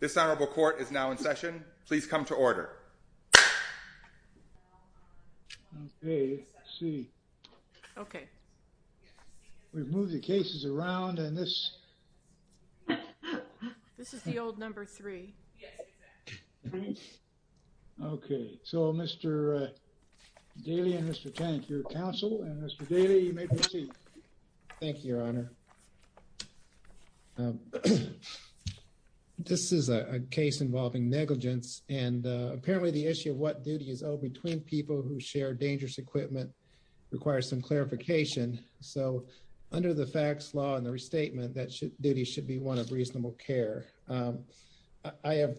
This Honorable Court is now in session. Please come to order. OK, let's see. OK. We've moved the cases around, and this. This is the old number three. Yes, exactly. OK, so Mr. Daley and Mr. Tank, you're counsel. And Mr. Daley, you may proceed. Thank you, Your Honor. This is a case involving negligence. And apparently, the issue of what duty is owed between people who share dangerous equipment requires some clarification. So under the FACTS law and the restatement, that duty should be one of reasonable care. I have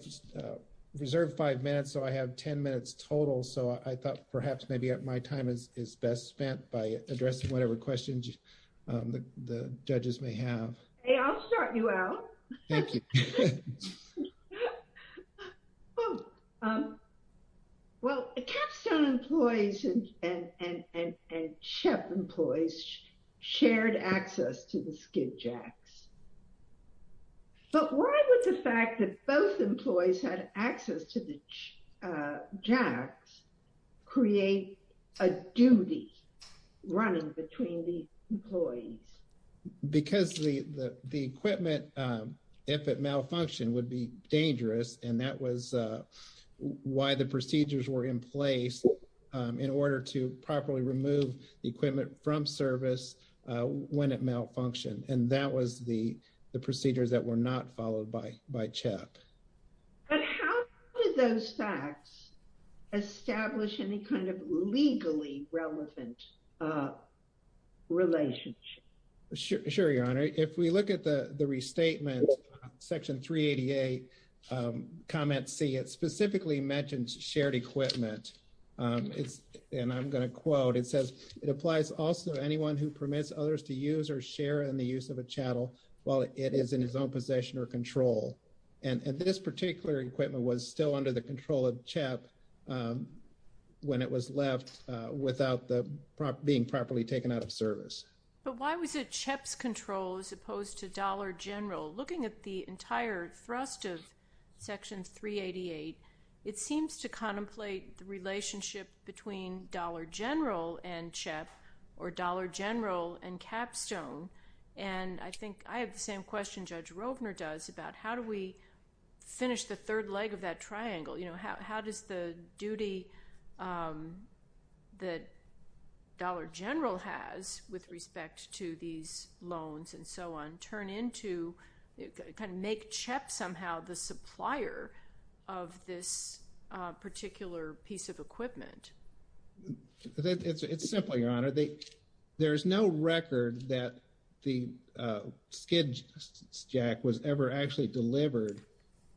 reserved five minutes, so I have 10 minutes total. So I thought perhaps maybe my time is best spent by addressing whatever questions the judges may have. OK, I'll start you out. Thank you. Well, Capstone employees and CHEP employees shared access to the skid jacks. But why would the fact that both employees had access to the jacks create a duty running between the employees? Because the equipment, if it malfunctioned, would be dangerous. And that was why the procedures were in place in order to properly remove the equipment from service when it malfunctioned. And that was the procedures that were not followed by CHEP. But how did those facts establish any kind of legally relevant relationship? Sure, Your Honor. If we look at the restatement, Section 388, Comment C, it specifically mentions shared equipment. And I'm going to quote. It says, it applies also to anyone who permits others to use or share in the use of a chattel while it is in his own possession or control. And this particular equipment was still under the control of CHEP when it was left without being properly taken out of service. But why was it CHEP's control as opposed to Dollar General? Looking at the entire thrust of Section 388, it seems to contemplate the relationship between Dollar General and CHEP or Dollar General and Capstone. And I think I have the same question Judge Rovner does about how do we finish the third leg of that triangle. How does the duty that Dollar General has with respect to these loans and so on turn into kind of make CHEP somehow the supplier of this particular piece of equipment? It's simple, Your Honor. There is no record that the skid jack was ever actually delivered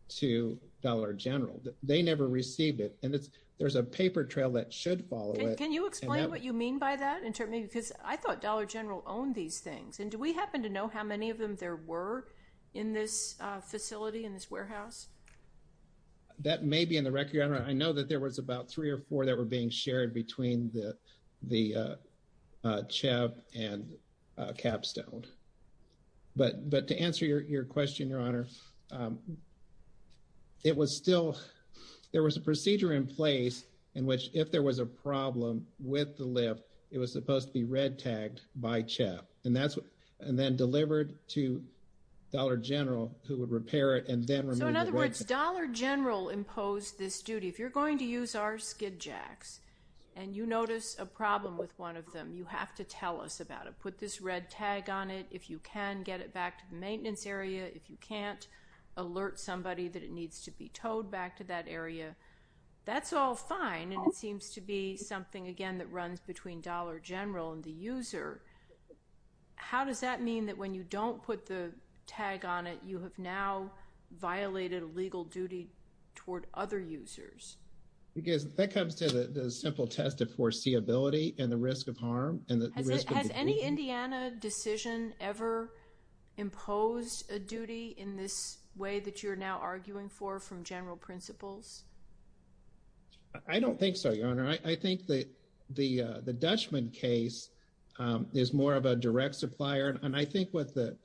to Dollar General. They never received it. And there's a paper trail that should follow it. Can you explain what you mean by that? Because I thought Dollar General owned these things. And do we happen to know how many of them there were in this facility, in this warehouse? That may be in the record. Your Honor, I know that there was about three or four that were being shared between the CHEP and Capstone. But to answer your question, Your Honor, it was still, there was a procedure in place in which if there was a problem with the lift, it was supposed to be red tagged by CHEP. And that's what, and then delivered to Dollar General, who would repair it and then remove the red tag. So in other words, Dollar General imposed this duty. If you're going to use our skid jacks and you notice a problem with one of them, you have to tell us about it. Put this red tag on it. If you can, get it back to the maintenance area. If you can't, alert somebody that it needs to be towed back to that area. That's all fine. And it seems to be something, again, that runs between Dollar General and the user. How does that mean that when you don't put the tag on it, you have now violated a legal duty toward other users? Because that comes to the simple test of foreseeability and the risk of harm. Has any Indiana decision ever imposed a duty in this way that you're now arguing for from general principles? I don't think so, Your Honor. I think that the Dutchman case is more of a direct supplier. And I think what the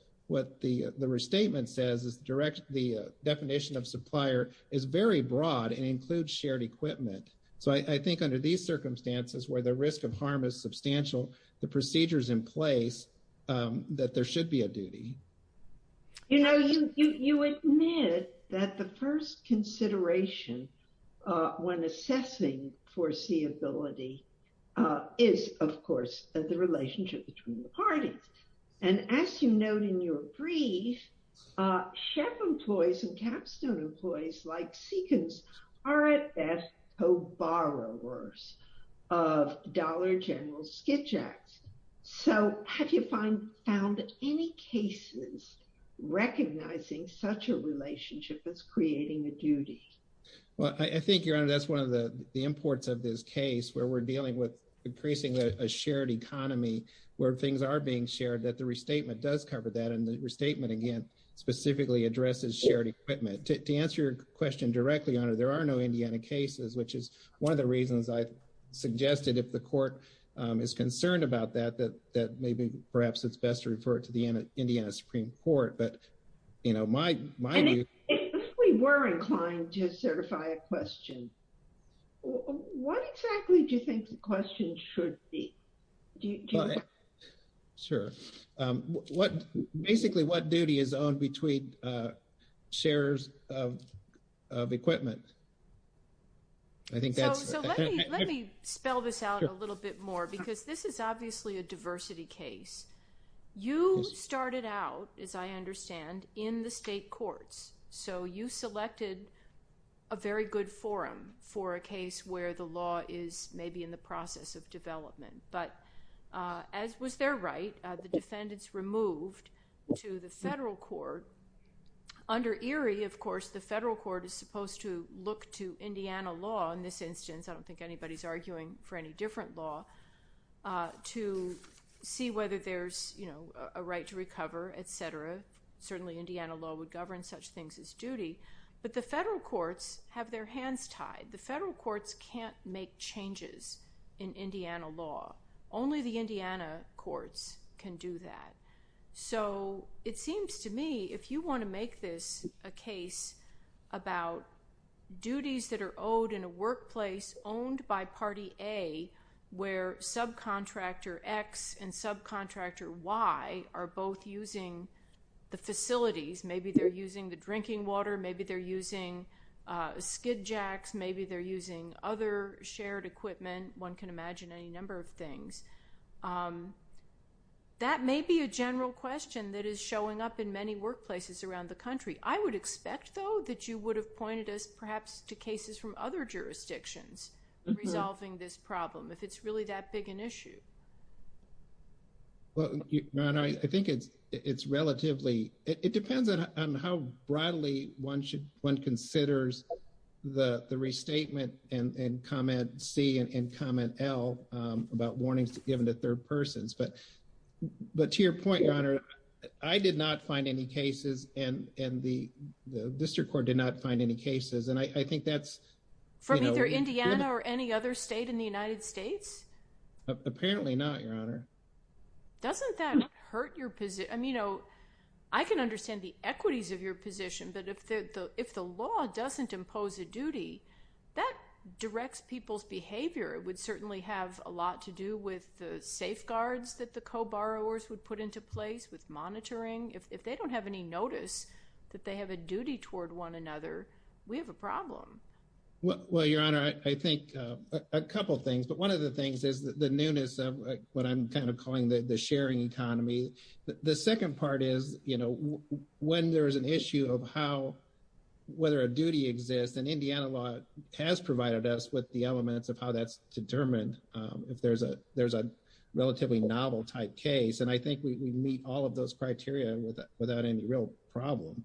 restatement says is the definition of supplier is very broad and includes shared equipment. So I think under these circumstances, where the risk of harm is substantial, the procedure's in place, that there should be a duty. You know, you admit that the first consideration when assessing foreseeability is, of course, the relationship between the parties. And as you note in your brief, chef employees and capstone employees like Seekins are at best co-borrowers of Dollar General's skidjacks. So have you found any cases recognizing such a relationship as creating a duty? Well, I think, Your Honor, that's one of the imports of this case where we're dealing with increasing a shared economy where things are being shared, that the restatement does cover that. And the restatement, again, specifically addresses shared equipment. To answer your question directly, Your Honor, there are no Indiana cases, which is one of the reasons I suggested if the court is concerned about that, that maybe perhaps it's best to refer it to the Indiana Supreme Court. But, you know, my view- And if we were inclined to certify a question, what exactly do you think the question should be? Do you- Sure. Basically, what duty is on between shares of equipment? I think that's- Let me spell this out a little bit more because this is obviously a diversity case. You started out, as I understand, in the state courts. So you selected a very good forum for a case where the law is maybe in the process of development. But as was their right, the defendants removed to the federal court. Under Erie, of course, the federal court is supposed to look to Indiana law, in this instance. I don't think anybody's arguing for any different law, to see whether there's a right to recover, et cetera. Certainly, Indiana law would govern such things as duty. But the federal courts have their hands tied. The federal courts can't make changes in Indiana law. Only the Indiana courts can do that. So it seems to me, if you want to make this a case about duties that are owed in a workplace owned by party A, where subcontractor X and subcontractor Y are both using the facilities, maybe they're using the drinking water, maybe they're using skid jacks, maybe they're using other shared equipment, one can imagine any number of things, that may be a general question that is showing up in many workplaces around the country. I would expect, though, that you would have pointed us, perhaps, to cases from other jurisdictions resolving this problem, if it's really that big an issue. Well, I think it's relatively, it depends on how broadly one considers the restatement and comment C and comment L about warnings given to third persons. But to your point, Your Honor, I did not find any cases and the district court did not find any cases. And I think that's- From either Indiana or any other state in the United States? Apparently not, Your Honor. Doesn't that hurt your position? I mean, I can understand the equities of your position, but if the law doesn't impose a duty, that directs people's behavior. It would certainly have a lot to do with the safeguards that the co-borrowers would put into place with monitoring. If they don't have any notice that they have a duty toward one another, we have a problem. Well, Your Honor, I think a couple of things, but one of the things is the newness of what I'm kind of calling the sharing economy. The second part is, you know, when there's an issue of how, whether a duty exists and Indiana law has provided us with the elements of how that's determined, if there's a relatively novel type case. And I think we meet all of those criteria without any real problem.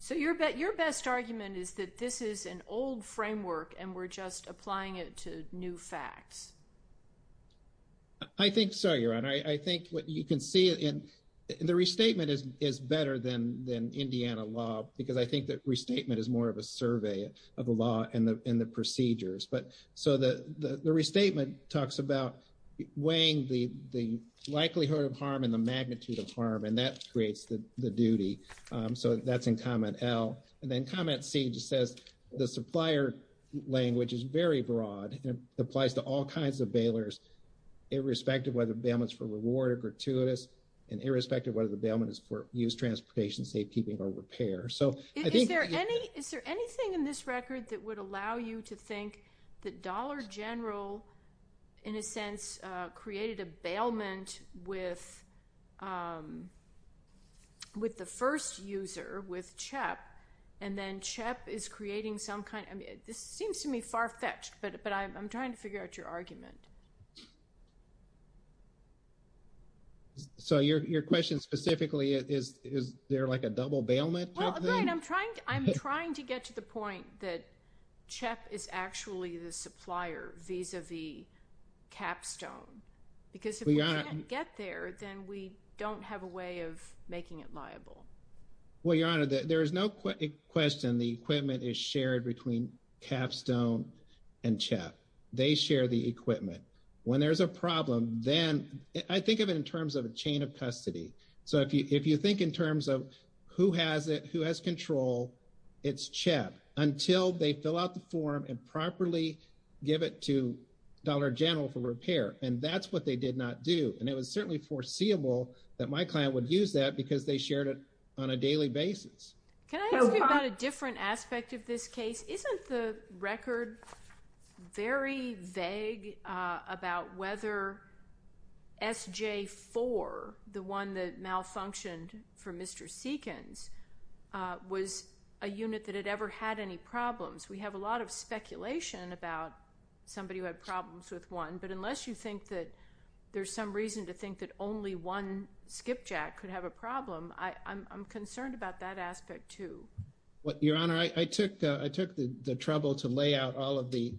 So your best argument is that this is an old framework and we're just applying it to new facts. I think so, Your Honor. I think what you can see in the restatement is better than Indiana law, because I think that restatement is more of a survey of the law and the procedures. But so the restatement talks about weighing the likelihood of harm and the magnitude of harm, and that creates the duty. So that's in comment L. And then comment C just says, the supplier language is very broad and applies to all kinds of bailers, irrespective of whether the bailment's for reward or gratuitous, and irrespective of whether the bailment is for use transportation safekeeping or repair. So I think- Is there anything in this record that would allow you to think that Dollar General, in a sense, created a bailment with the first user, with CHEP, and then CHEP is creating some kind of, this seems to me far-fetched, but I'm trying to figure out your argument. So your question specifically, is there like a double bailment type thing? Well, right, I'm trying to get to the point that CHEP is actually the supplier vis-a-vis Capstone, because if we can't get there, then we don't have a way of making it liable. Well, Your Honor, there is no question the equipment is shared between Capstone and CHEP. They share the equipment. When there's a problem, then, I think of it in terms of a chain of custody. So if you think in terms of who has it, who has control, it's CHEP, until they fill out the form and properly give it to Dollar General for repair. And that's what they did not do. And it was certainly foreseeable that my client would use that because they shared it on a daily basis. Can I ask you about a different aspect of this case? Isn't the record very vague about whether SJ-4, the one that malfunctioned for Mr. Seekins, was a unit that had ever had any problems? We have a lot of speculation about somebody who had problems with one, but unless you think that there's some reason to think that only one skipjack could have a problem, I'm concerned about that aspect too. Your Honor, I took the trouble to lay out all of the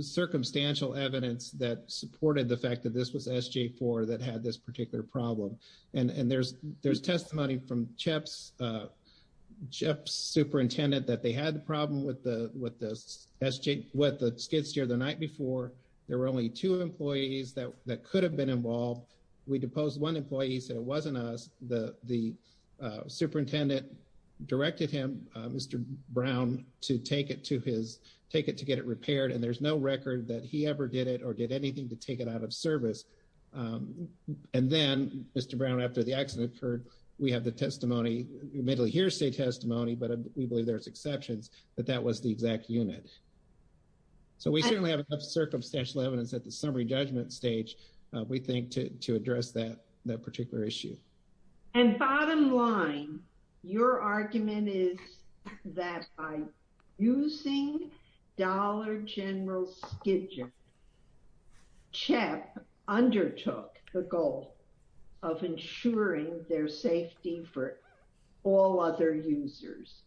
circumstantial evidence that supported the fact that this was SJ-4 that had this particular problem. And there's testimony from CHEP's superintendent that they had the problem with the skid steer the night before. There were only two employees that could have been involved. We deposed one employee, so it wasn't us. The superintendent directed him, Mr. Brown, to take it to get it repaired. And there's no record that he ever did it or did anything to take it out of service. And then, Mr. Brown, after the accident occurred, we have the testimony, middle of hearsay testimony, but we believe there's exceptions, that that was the exact unit. So we certainly have enough circumstantial evidence at the summary judgment stage, we think, to address that particular issue. And bottom line, your argument is that by using dollar general skid steer, CHEP undertook the goal of ensuring their safety for all other users.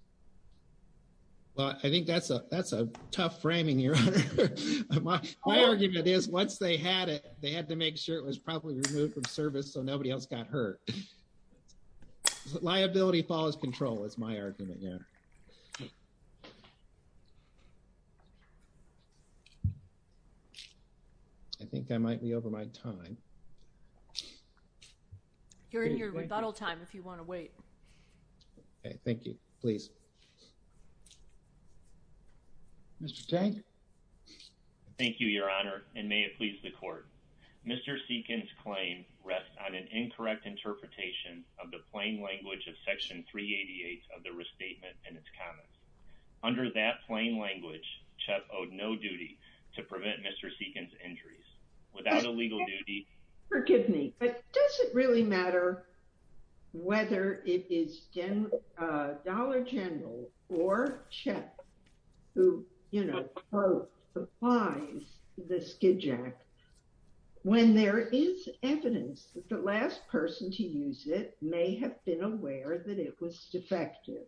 Well, I think that's a tough framing here. My argument is once they had it, they had to make sure it was properly removed from service so nobody else got hurt. Liability follows control is my argument, yeah. I think I might be over my time. You're in your rebuttal time if you want to wait. Okay, thank you, please. Mr. Tank. Thank you, Your Honor, and may it please the court. Mr. Seekin's claim rests on an incorrect interpretation of the plain language of section 388 of the restatement and its comments. Under that plain language, CHEP owed no duty to prevent Mr. Seekin's injuries. Without a legal duty. Forgive me, but does it really matter whether it is dollar general or CHEP who, you know, quote, supplies the skid jack when there is evidence that the last person to use it may have been aware that it was defective?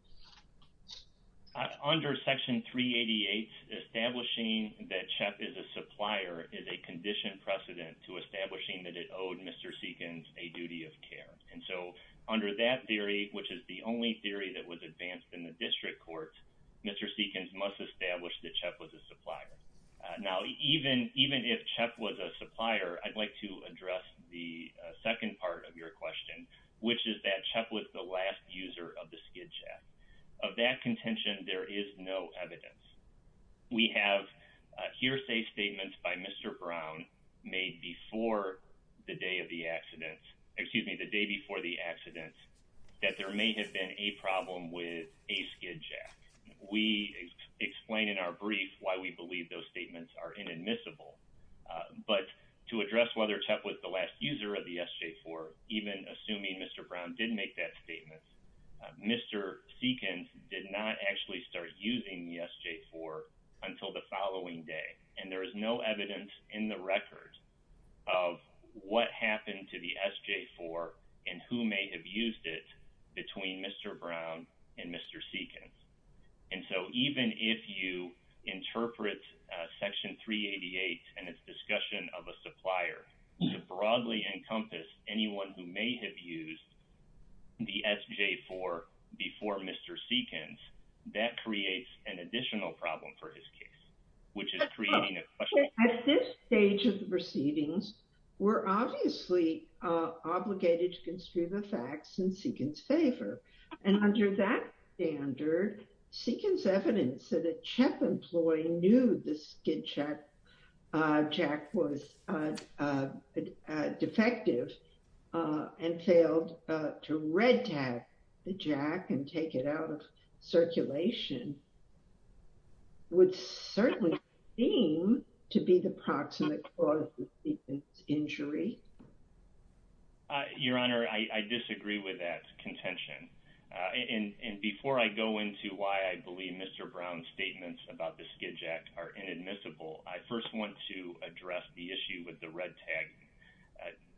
Under section 388, establishing that CHEP is a supplier is a condition precedent to establishing that it owed Mr. Seekin's a duty of care. And so under that theory, which is the only theory that was advanced in the district court, Mr. Seekin's must establish that CHEP was a supplier. Now, even if CHEP was a supplier, I'd like to address the second part of your question, which is that CHEP was the last user of the skid jack. Of that contention, there is no evidence. We have hearsay statements by Mr. Brown made before the day of the accident. Excuse me, the day before the accident that there may have been a problem with a skid jack. We explain in our brief why we believe those statements are inadmissible. But to address whether CHEP was the last user of the SJ-4, even assuming Mr. Brown did make that statement, Mr. Seekin's did not actually start using the SJ-4 until the following day. And there is no evidence in the record of what happened to the SJ-4 and who may have used it between Mr. Brown and Mr. Seekin's. And so even if you interpret section 388 and its discussion of a supplier to broadly encompass anyone who may have used the SJ-4 before Mr. Seekin's, that creates an additional problem for his case, which is creating a question- At this stage of the proceedings, we're obviously obligated to construe the facts in Seekin's favor. And under that standard, Seekin's evidence that a CHEP employee knew the skid jack jack was defective and failed to red tag the jack and take it out of circulation would certainly seem to be the proximate cause of Seekin's injury. Your Honor, I disagree with that contention. And before I go into why I believe Mr. Brown's statements about the skid jack are inadmissible, I first want to address the issue with the red tagging.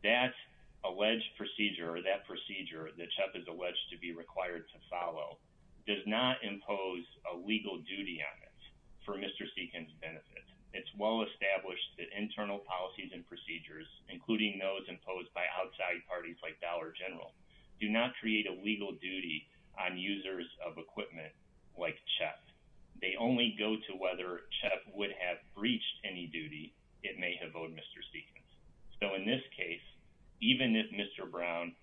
That alleged procedure or that procedure that CHEP is alleged to be required to follow does not impose a legal duty on it for Mr. Seekin's benefit. It's well-established that internal policies and procedures, including those imposed by outside parties like Dollar General, do not create a legal duty on users of equipment like CHEP. They only go to whether CHEP would have breached any duty it may have owed Mr. Seekin's. So in this case, even if Mr. Brown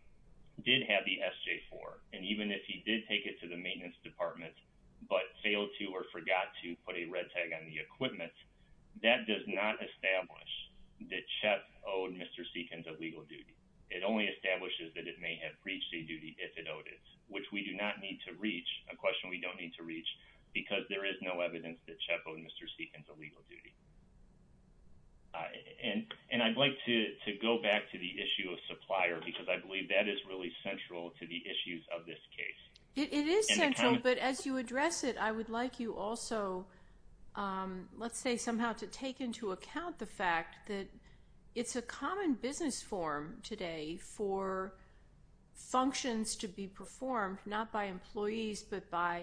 did have the SJ-4 and even if he did take it to the maintenance department but failed to or forgot to put a red tag on the equipment, that does not establish that CHEP owed Mr. Seekin's a legal duty. It only establishes that it may have breached a duty if it owed it, which we do not need to reach, a question we don't need to reach because there is no evidence that CHEP owed Mr. Seekin's a legal duty. And I'd like to go back to the issue of supplier because I believe that is really central to the issues of this case. It is central, but as you address it, I would like you also, let's say somehow, to take into account the fact that it's a common business form today for functions to be performed not by employees but by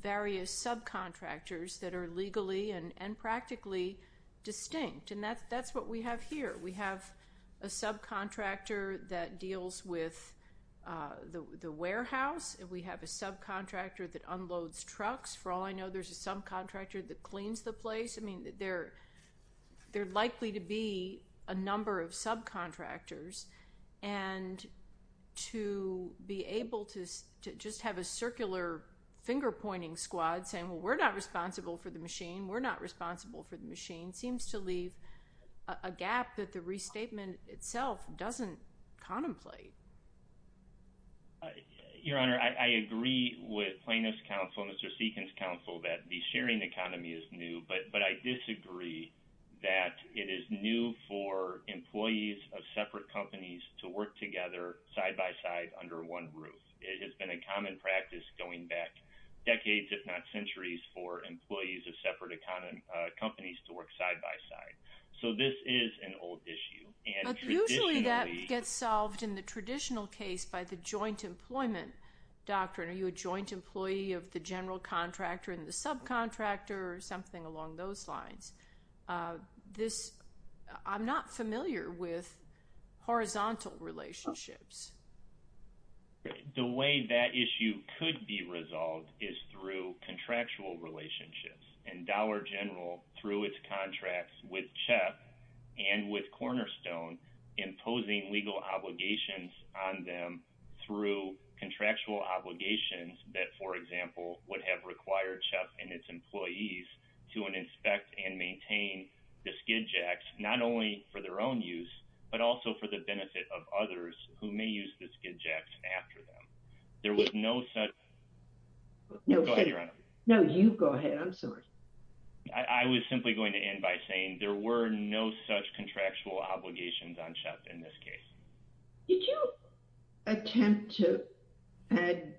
various subcontractors that are legally and practically distinct. And that's what we have here. We have a subcontractor that deals with the warehouse and we have a subcontractor that unloads trucks. For all I know, there's a subcontractor that cleans the place. I mean, they're likely to be a number of subcontractors and to be able to just have a circular finger-pointing squad saying, well, we're not responsible for the machine, we're not responsible for the machine seems to leave a gap that the restatement itself doesn't contemplate. Your Honor, I agree with Plano's counsel, Mr. Seekin's counsel, that the sharing economy is new, but I disagree that it is new for employees of separate companies to work together side-by-side under one roof. It has been a common practice going back decades, if not centuries, for employees of separate companies to work side-by-side. So this is an old issue. And traditionally- But usually that gets solved in the traditional case by the joint employment doctrine. Are you a joint employee of the general contractor and the subcontractor or something along those lines? This, I'm not familiar with horizontal relationships. The way that issue could be resolved is through contractual relationships. And Dollar General, through its contracts with CHEP and with Cornerstone, imposing legal obligations on them through contractual obligations that, for example, would have required CHEP and its employees to inspect and maintain the skid jacks, not only for their own use, but also for the benefit of others who may use the skid jacks after them. There was no such- No, you go ahead, I'm sorry. I was simply going to end by saying there were no such contractual obligations on CHEP in this case. Did you attempt to add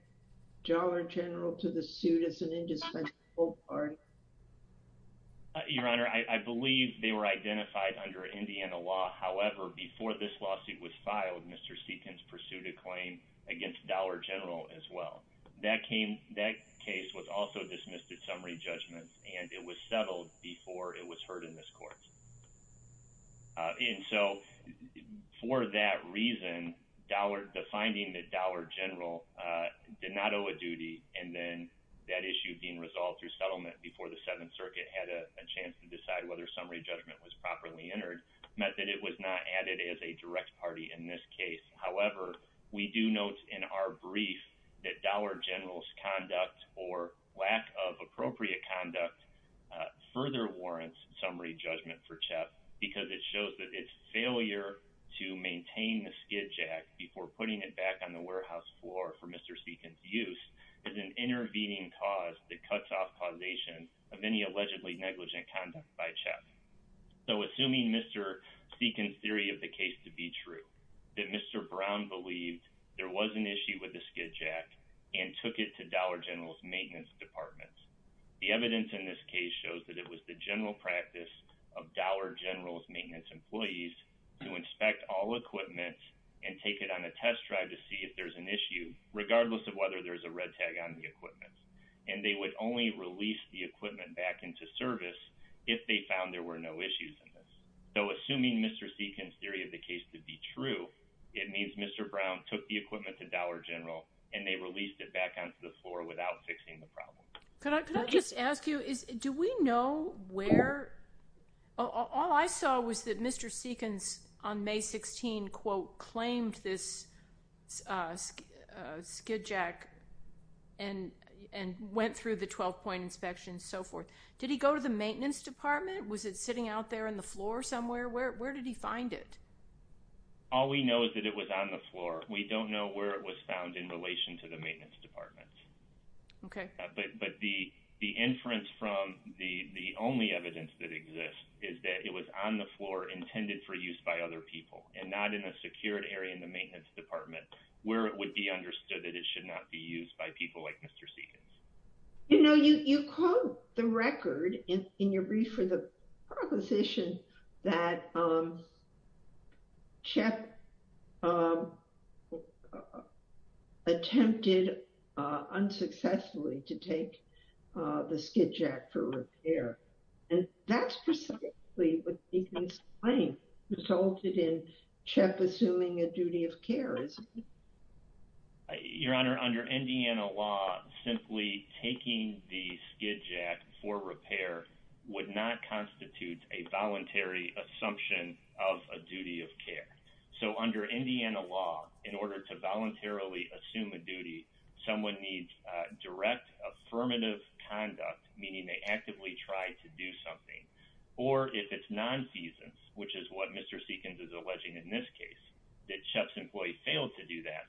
Dollar General to the suit as an indispensable part? Your Honor, I believe they were identified under Indiana law. However, before this lawsuit was filed, Mr. Seekins pursued a claim against Dollar General as well. That case was also dismissed at summary judgment and it was settled before it was heard in this court. And so for that reason, the finding that Dollar General did not owe a duty and then that issue being resolved through settlement before the Seventh Circuit had a chance to decide whether summary judgment was properly entered, meant that it was not added as a direct party in this case. However, we do note in our brief that Dollar General's conduct or lack of appropriate conduct further warrants summary judgment for CHEP because it shows that its failure to maintain the skid jack before putting it back on the warehouse floor for Mr. Seekins' use is an intervening cause that cuts off causation of any allegedly negligent conduct by CHEP. So assuming Mr. Seekins' theory of the case to be true, that Mr. Brown believed there was an issue with the skid jack and took it to Dollar General's maintenance department. The evidence in this case shows that it was the general practice of Dollar General's maintenance employees to inspect all equipment and take it on a test drive to see if there's an issue, regardless of whether there's a red tag on the equipment. And they would only release the equipment back into service if they found there were no issues in this. So assuming Mr. Seekins' theory of the case to be true, it means Mr. Brown took the equipment to Dollar General and they released it back onto the floor without fixing the problem. Could I just ask you, do we know where? All I saw was that Mr. Seekins on May 16, quote, claimed this skid jack and went through the 12-point inspection and so forth. Did he go to the maintenance department? Was it sitting out there on the floor somewhere? Where did he find it? All we know is that it was on the floor. We don't know where it was found in relation to the maintenance department. Okay. But the inference from the only evidence that exists is that it was on the floor intended for use by other people and not in a secured area in the maintenance department where it would be understood that it should not be used by people like Mr. Seekins. You know, you quote the record in your brief for the proposition that Chet attempted unsuccessfully to take the skid jack for repair. And that's precisely what Seekins' claim resulted in Chet assuming a duty of care, isn't it? Your Honor, under Indiana law, simply taking the skid jack for repair would not constitute a voluntary assumption of a duty of care. So under Indiana law, in order to voluntarily assume a duty, someone needs direct affirmative conduct, meaning they actively try to do something. Or if it's non-feasance, which is what Mr. Seekins is alleging in this case, that Chet's employee failed to do that,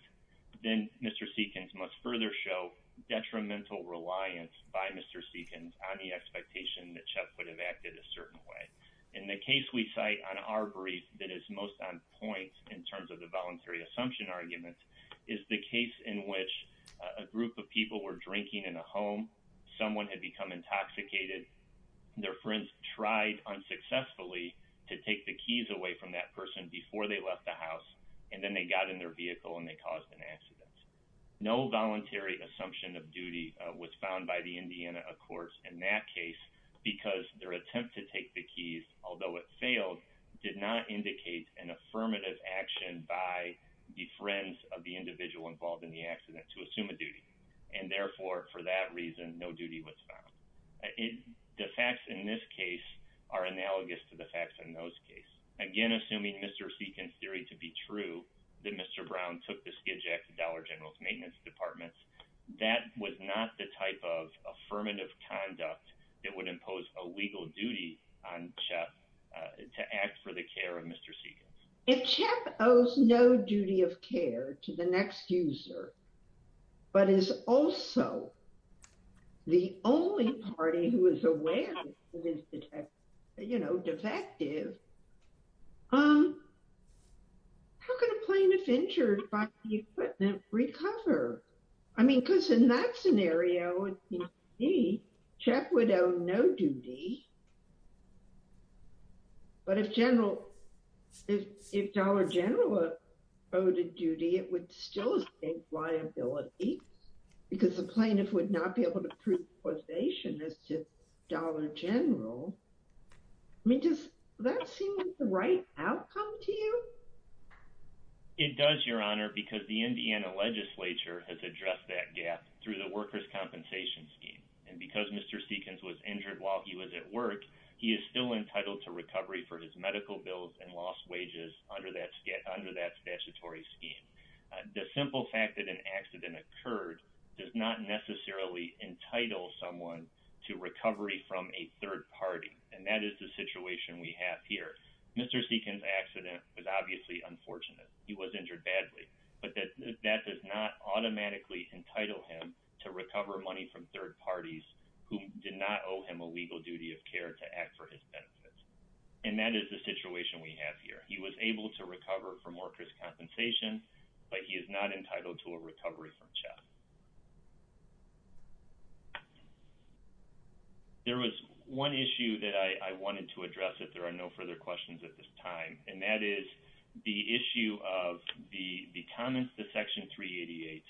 then Mr. Seekins must further show detrimental reliance by Mr. Seekins on the expectation that Chet would have acted a certain way. In the case we cite on our brief that is most on point in terms of the voluntary assumption argument is the case in which a group of people were drinking in a home, someone had become intoxicated, their friends tried unsuccessfully to take the keys away from that person before they left the house, and then they got in their vehicle and they caused an accident. No voluntary assumption of duty was found by the Indiana courts in that case because their attempt to take the keys, although it failed, did not indicate an affirmative action by the friends of the individual involved in the accident to assume a duty. And therefore, for that reason, no duty was found. The facts in this case are analogous to the facts in those case. Again, assuming Mr. Seekins theory to be true, that Mr. Brown took the Skid Jack to Dollar General's maintenance departments, that was not the type of affirmative conduct that would impose a legal duty on Chet to act for the care of Mr. Seekins. If Chet owes no duty of care to the next user, but is also the only party who is aware of his defective, how can a plaintiff injured by the equipment recover? I mean, because in that scenario, Chet would owe no duty, but if Dollar General owed a duty, it would still take liability because the plaintiff would not be able to prove causation as to Dollar General. I mean, does that seem like the right outcome to you? It does, Your Honor, because the Indiana legislature has addressed that gap through the workers' compensation scheme. And because Mr. Seekins was injured while he was at work, he is still entitled to recovery for his medical bills and lost wages under that statutory scheme. The simple fact that an accident occurred does not necessarily entitle someone to recovery from a third party. And that is the situation we have here. Mr. Seekins' accident was obviously unfortunate. He was injured badly, but that does not automatically entitle him to recover money from third parties who did not owe him a legal duty of care to act for his benefits. And that is the situation we have here. He was able to recover from workers' compensation, but he is not entitled to a recovery from Chet. There was one issue that I wanted to address if there are no further questions at this time, and that is the issue of the comments to Section 388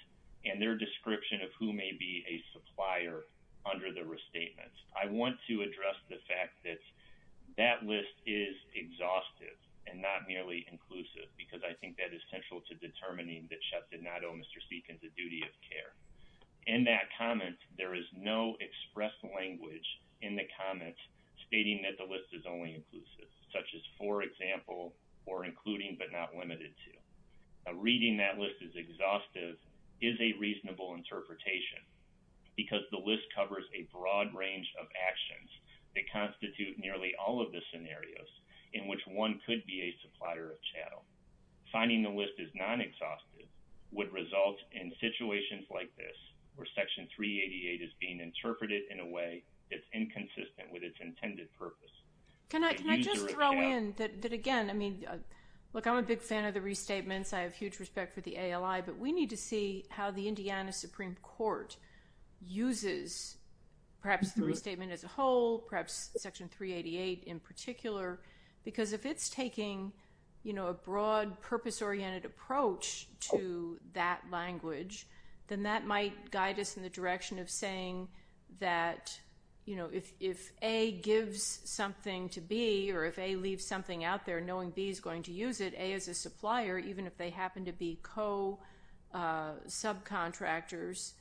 and their description of who may be a supplier under the restatements. I want to address the fact that that list is exhaustive and not merely inclusive, because I think that is central to determining that Chet did not owe Mr. Seekins a duty of care. In that comment, there is no expressed language in the comment stating that the list is only inclusive, such as for example, or including but not limited to. Reading that list is exhaustive is a reasonable interpretation because the list covers a broad range of actions that constitute nearly all of the scenarios in which one could be a supplier of chattel. Finding the list is non-exhaustive would result in situations like this, where Section 388 is being interpreted in a way that's inconsistent with its intended purpose. Can I just throw in that again, I mean, look, I'm a big fan of the restatements. I have huge respect for the ALI, but we need to see how the Indiana Supreme Court uses perhaps the restatement as a whole, perhaps Section 388 in particular, because if it's taking a broad, purpose-oriented approach to that language, then that might guide us in the direction of saying that if A gives something to B, or if A leaves something out there knowing B is going to use it, A is a supplier, even if they happen to be co-subcontractors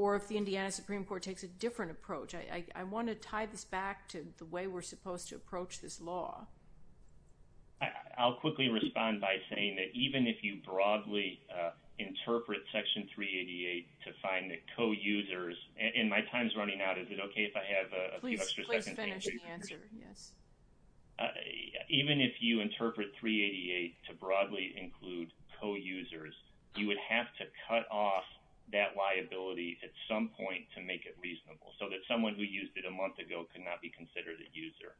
or if the Indiana Supreme Court takes a different approach. I want to tie this back to the way we're supposed to approach this law. I'll quickly respond by saying that even if you broadly interpret Section 388 to find the co-users, and my time's running out, is it okay if I have a few extra seconds? Please finish the answer, yes. Even if you interpret 388 to broadly include co-users, you would have to cut off that liability at some point to make it reasonable so that someone who used it a month ago could not be considered a user.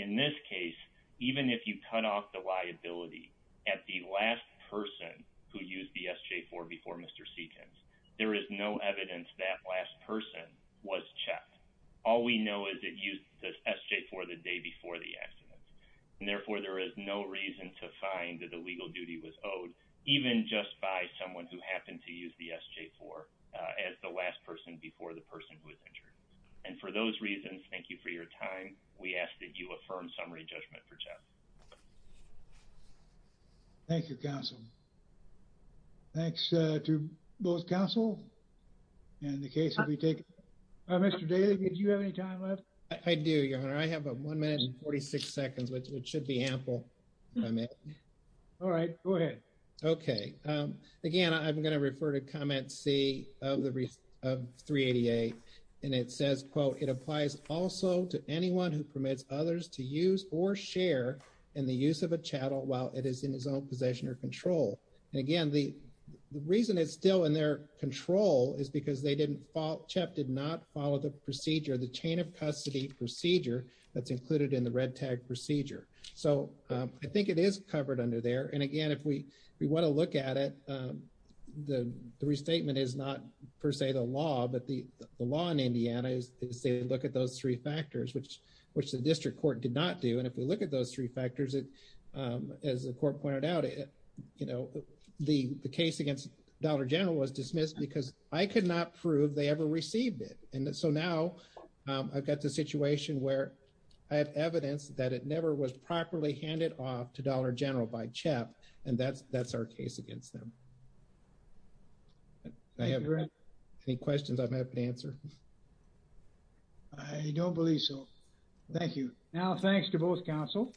In this case, even if you cut off the liability at the last person who used the SJ-4 before Mr. Seekins, there is no evidence that last person was checked. All we know is that he used the SJ-4 the day before the accident. And therefore, there is no reason to find that the legal duty was owed, even just by someone who happened to use the SJ-4 as the last person before the person who was injured. And for those reasons, thank you for your time. We ask that you affirm summary judgment for Jeff. Thank you, counsel. Thanks to both counsel. And the case will be taken. Mr. Daly, do you have any time left? I do, your honor. I have a one minute and 46 seconds, which should be ample if I may. All right, go ahead. Okay. Again, I'm gonna refer to comment C of 388. And it says, quote, it applies also to anyone who permits others to use or share in the use of a chattel while it is in his own possession or control. And again, the reason it's still in their control is because they didn't fall, CHEP did not follow the procedure, the chain of custody procedure that's included in the red tag procedure. So I think it is covered under there. And again, if we wanna look at it, the restatement is not per se the law, but the law in Indiana is they look at those three factors, which the district court did not do. And if we look at those three factors, as the court pointed out, the case against Dollar General was dismissed because I could not prove they ever received it. And so now I've got the situation where I have evidence that it never was properly handed off to Dollar General by CHEP. And that's our case against them. I have any questions I may have to answer? I don't believe so. Thank you. Now, thanks to both counsel.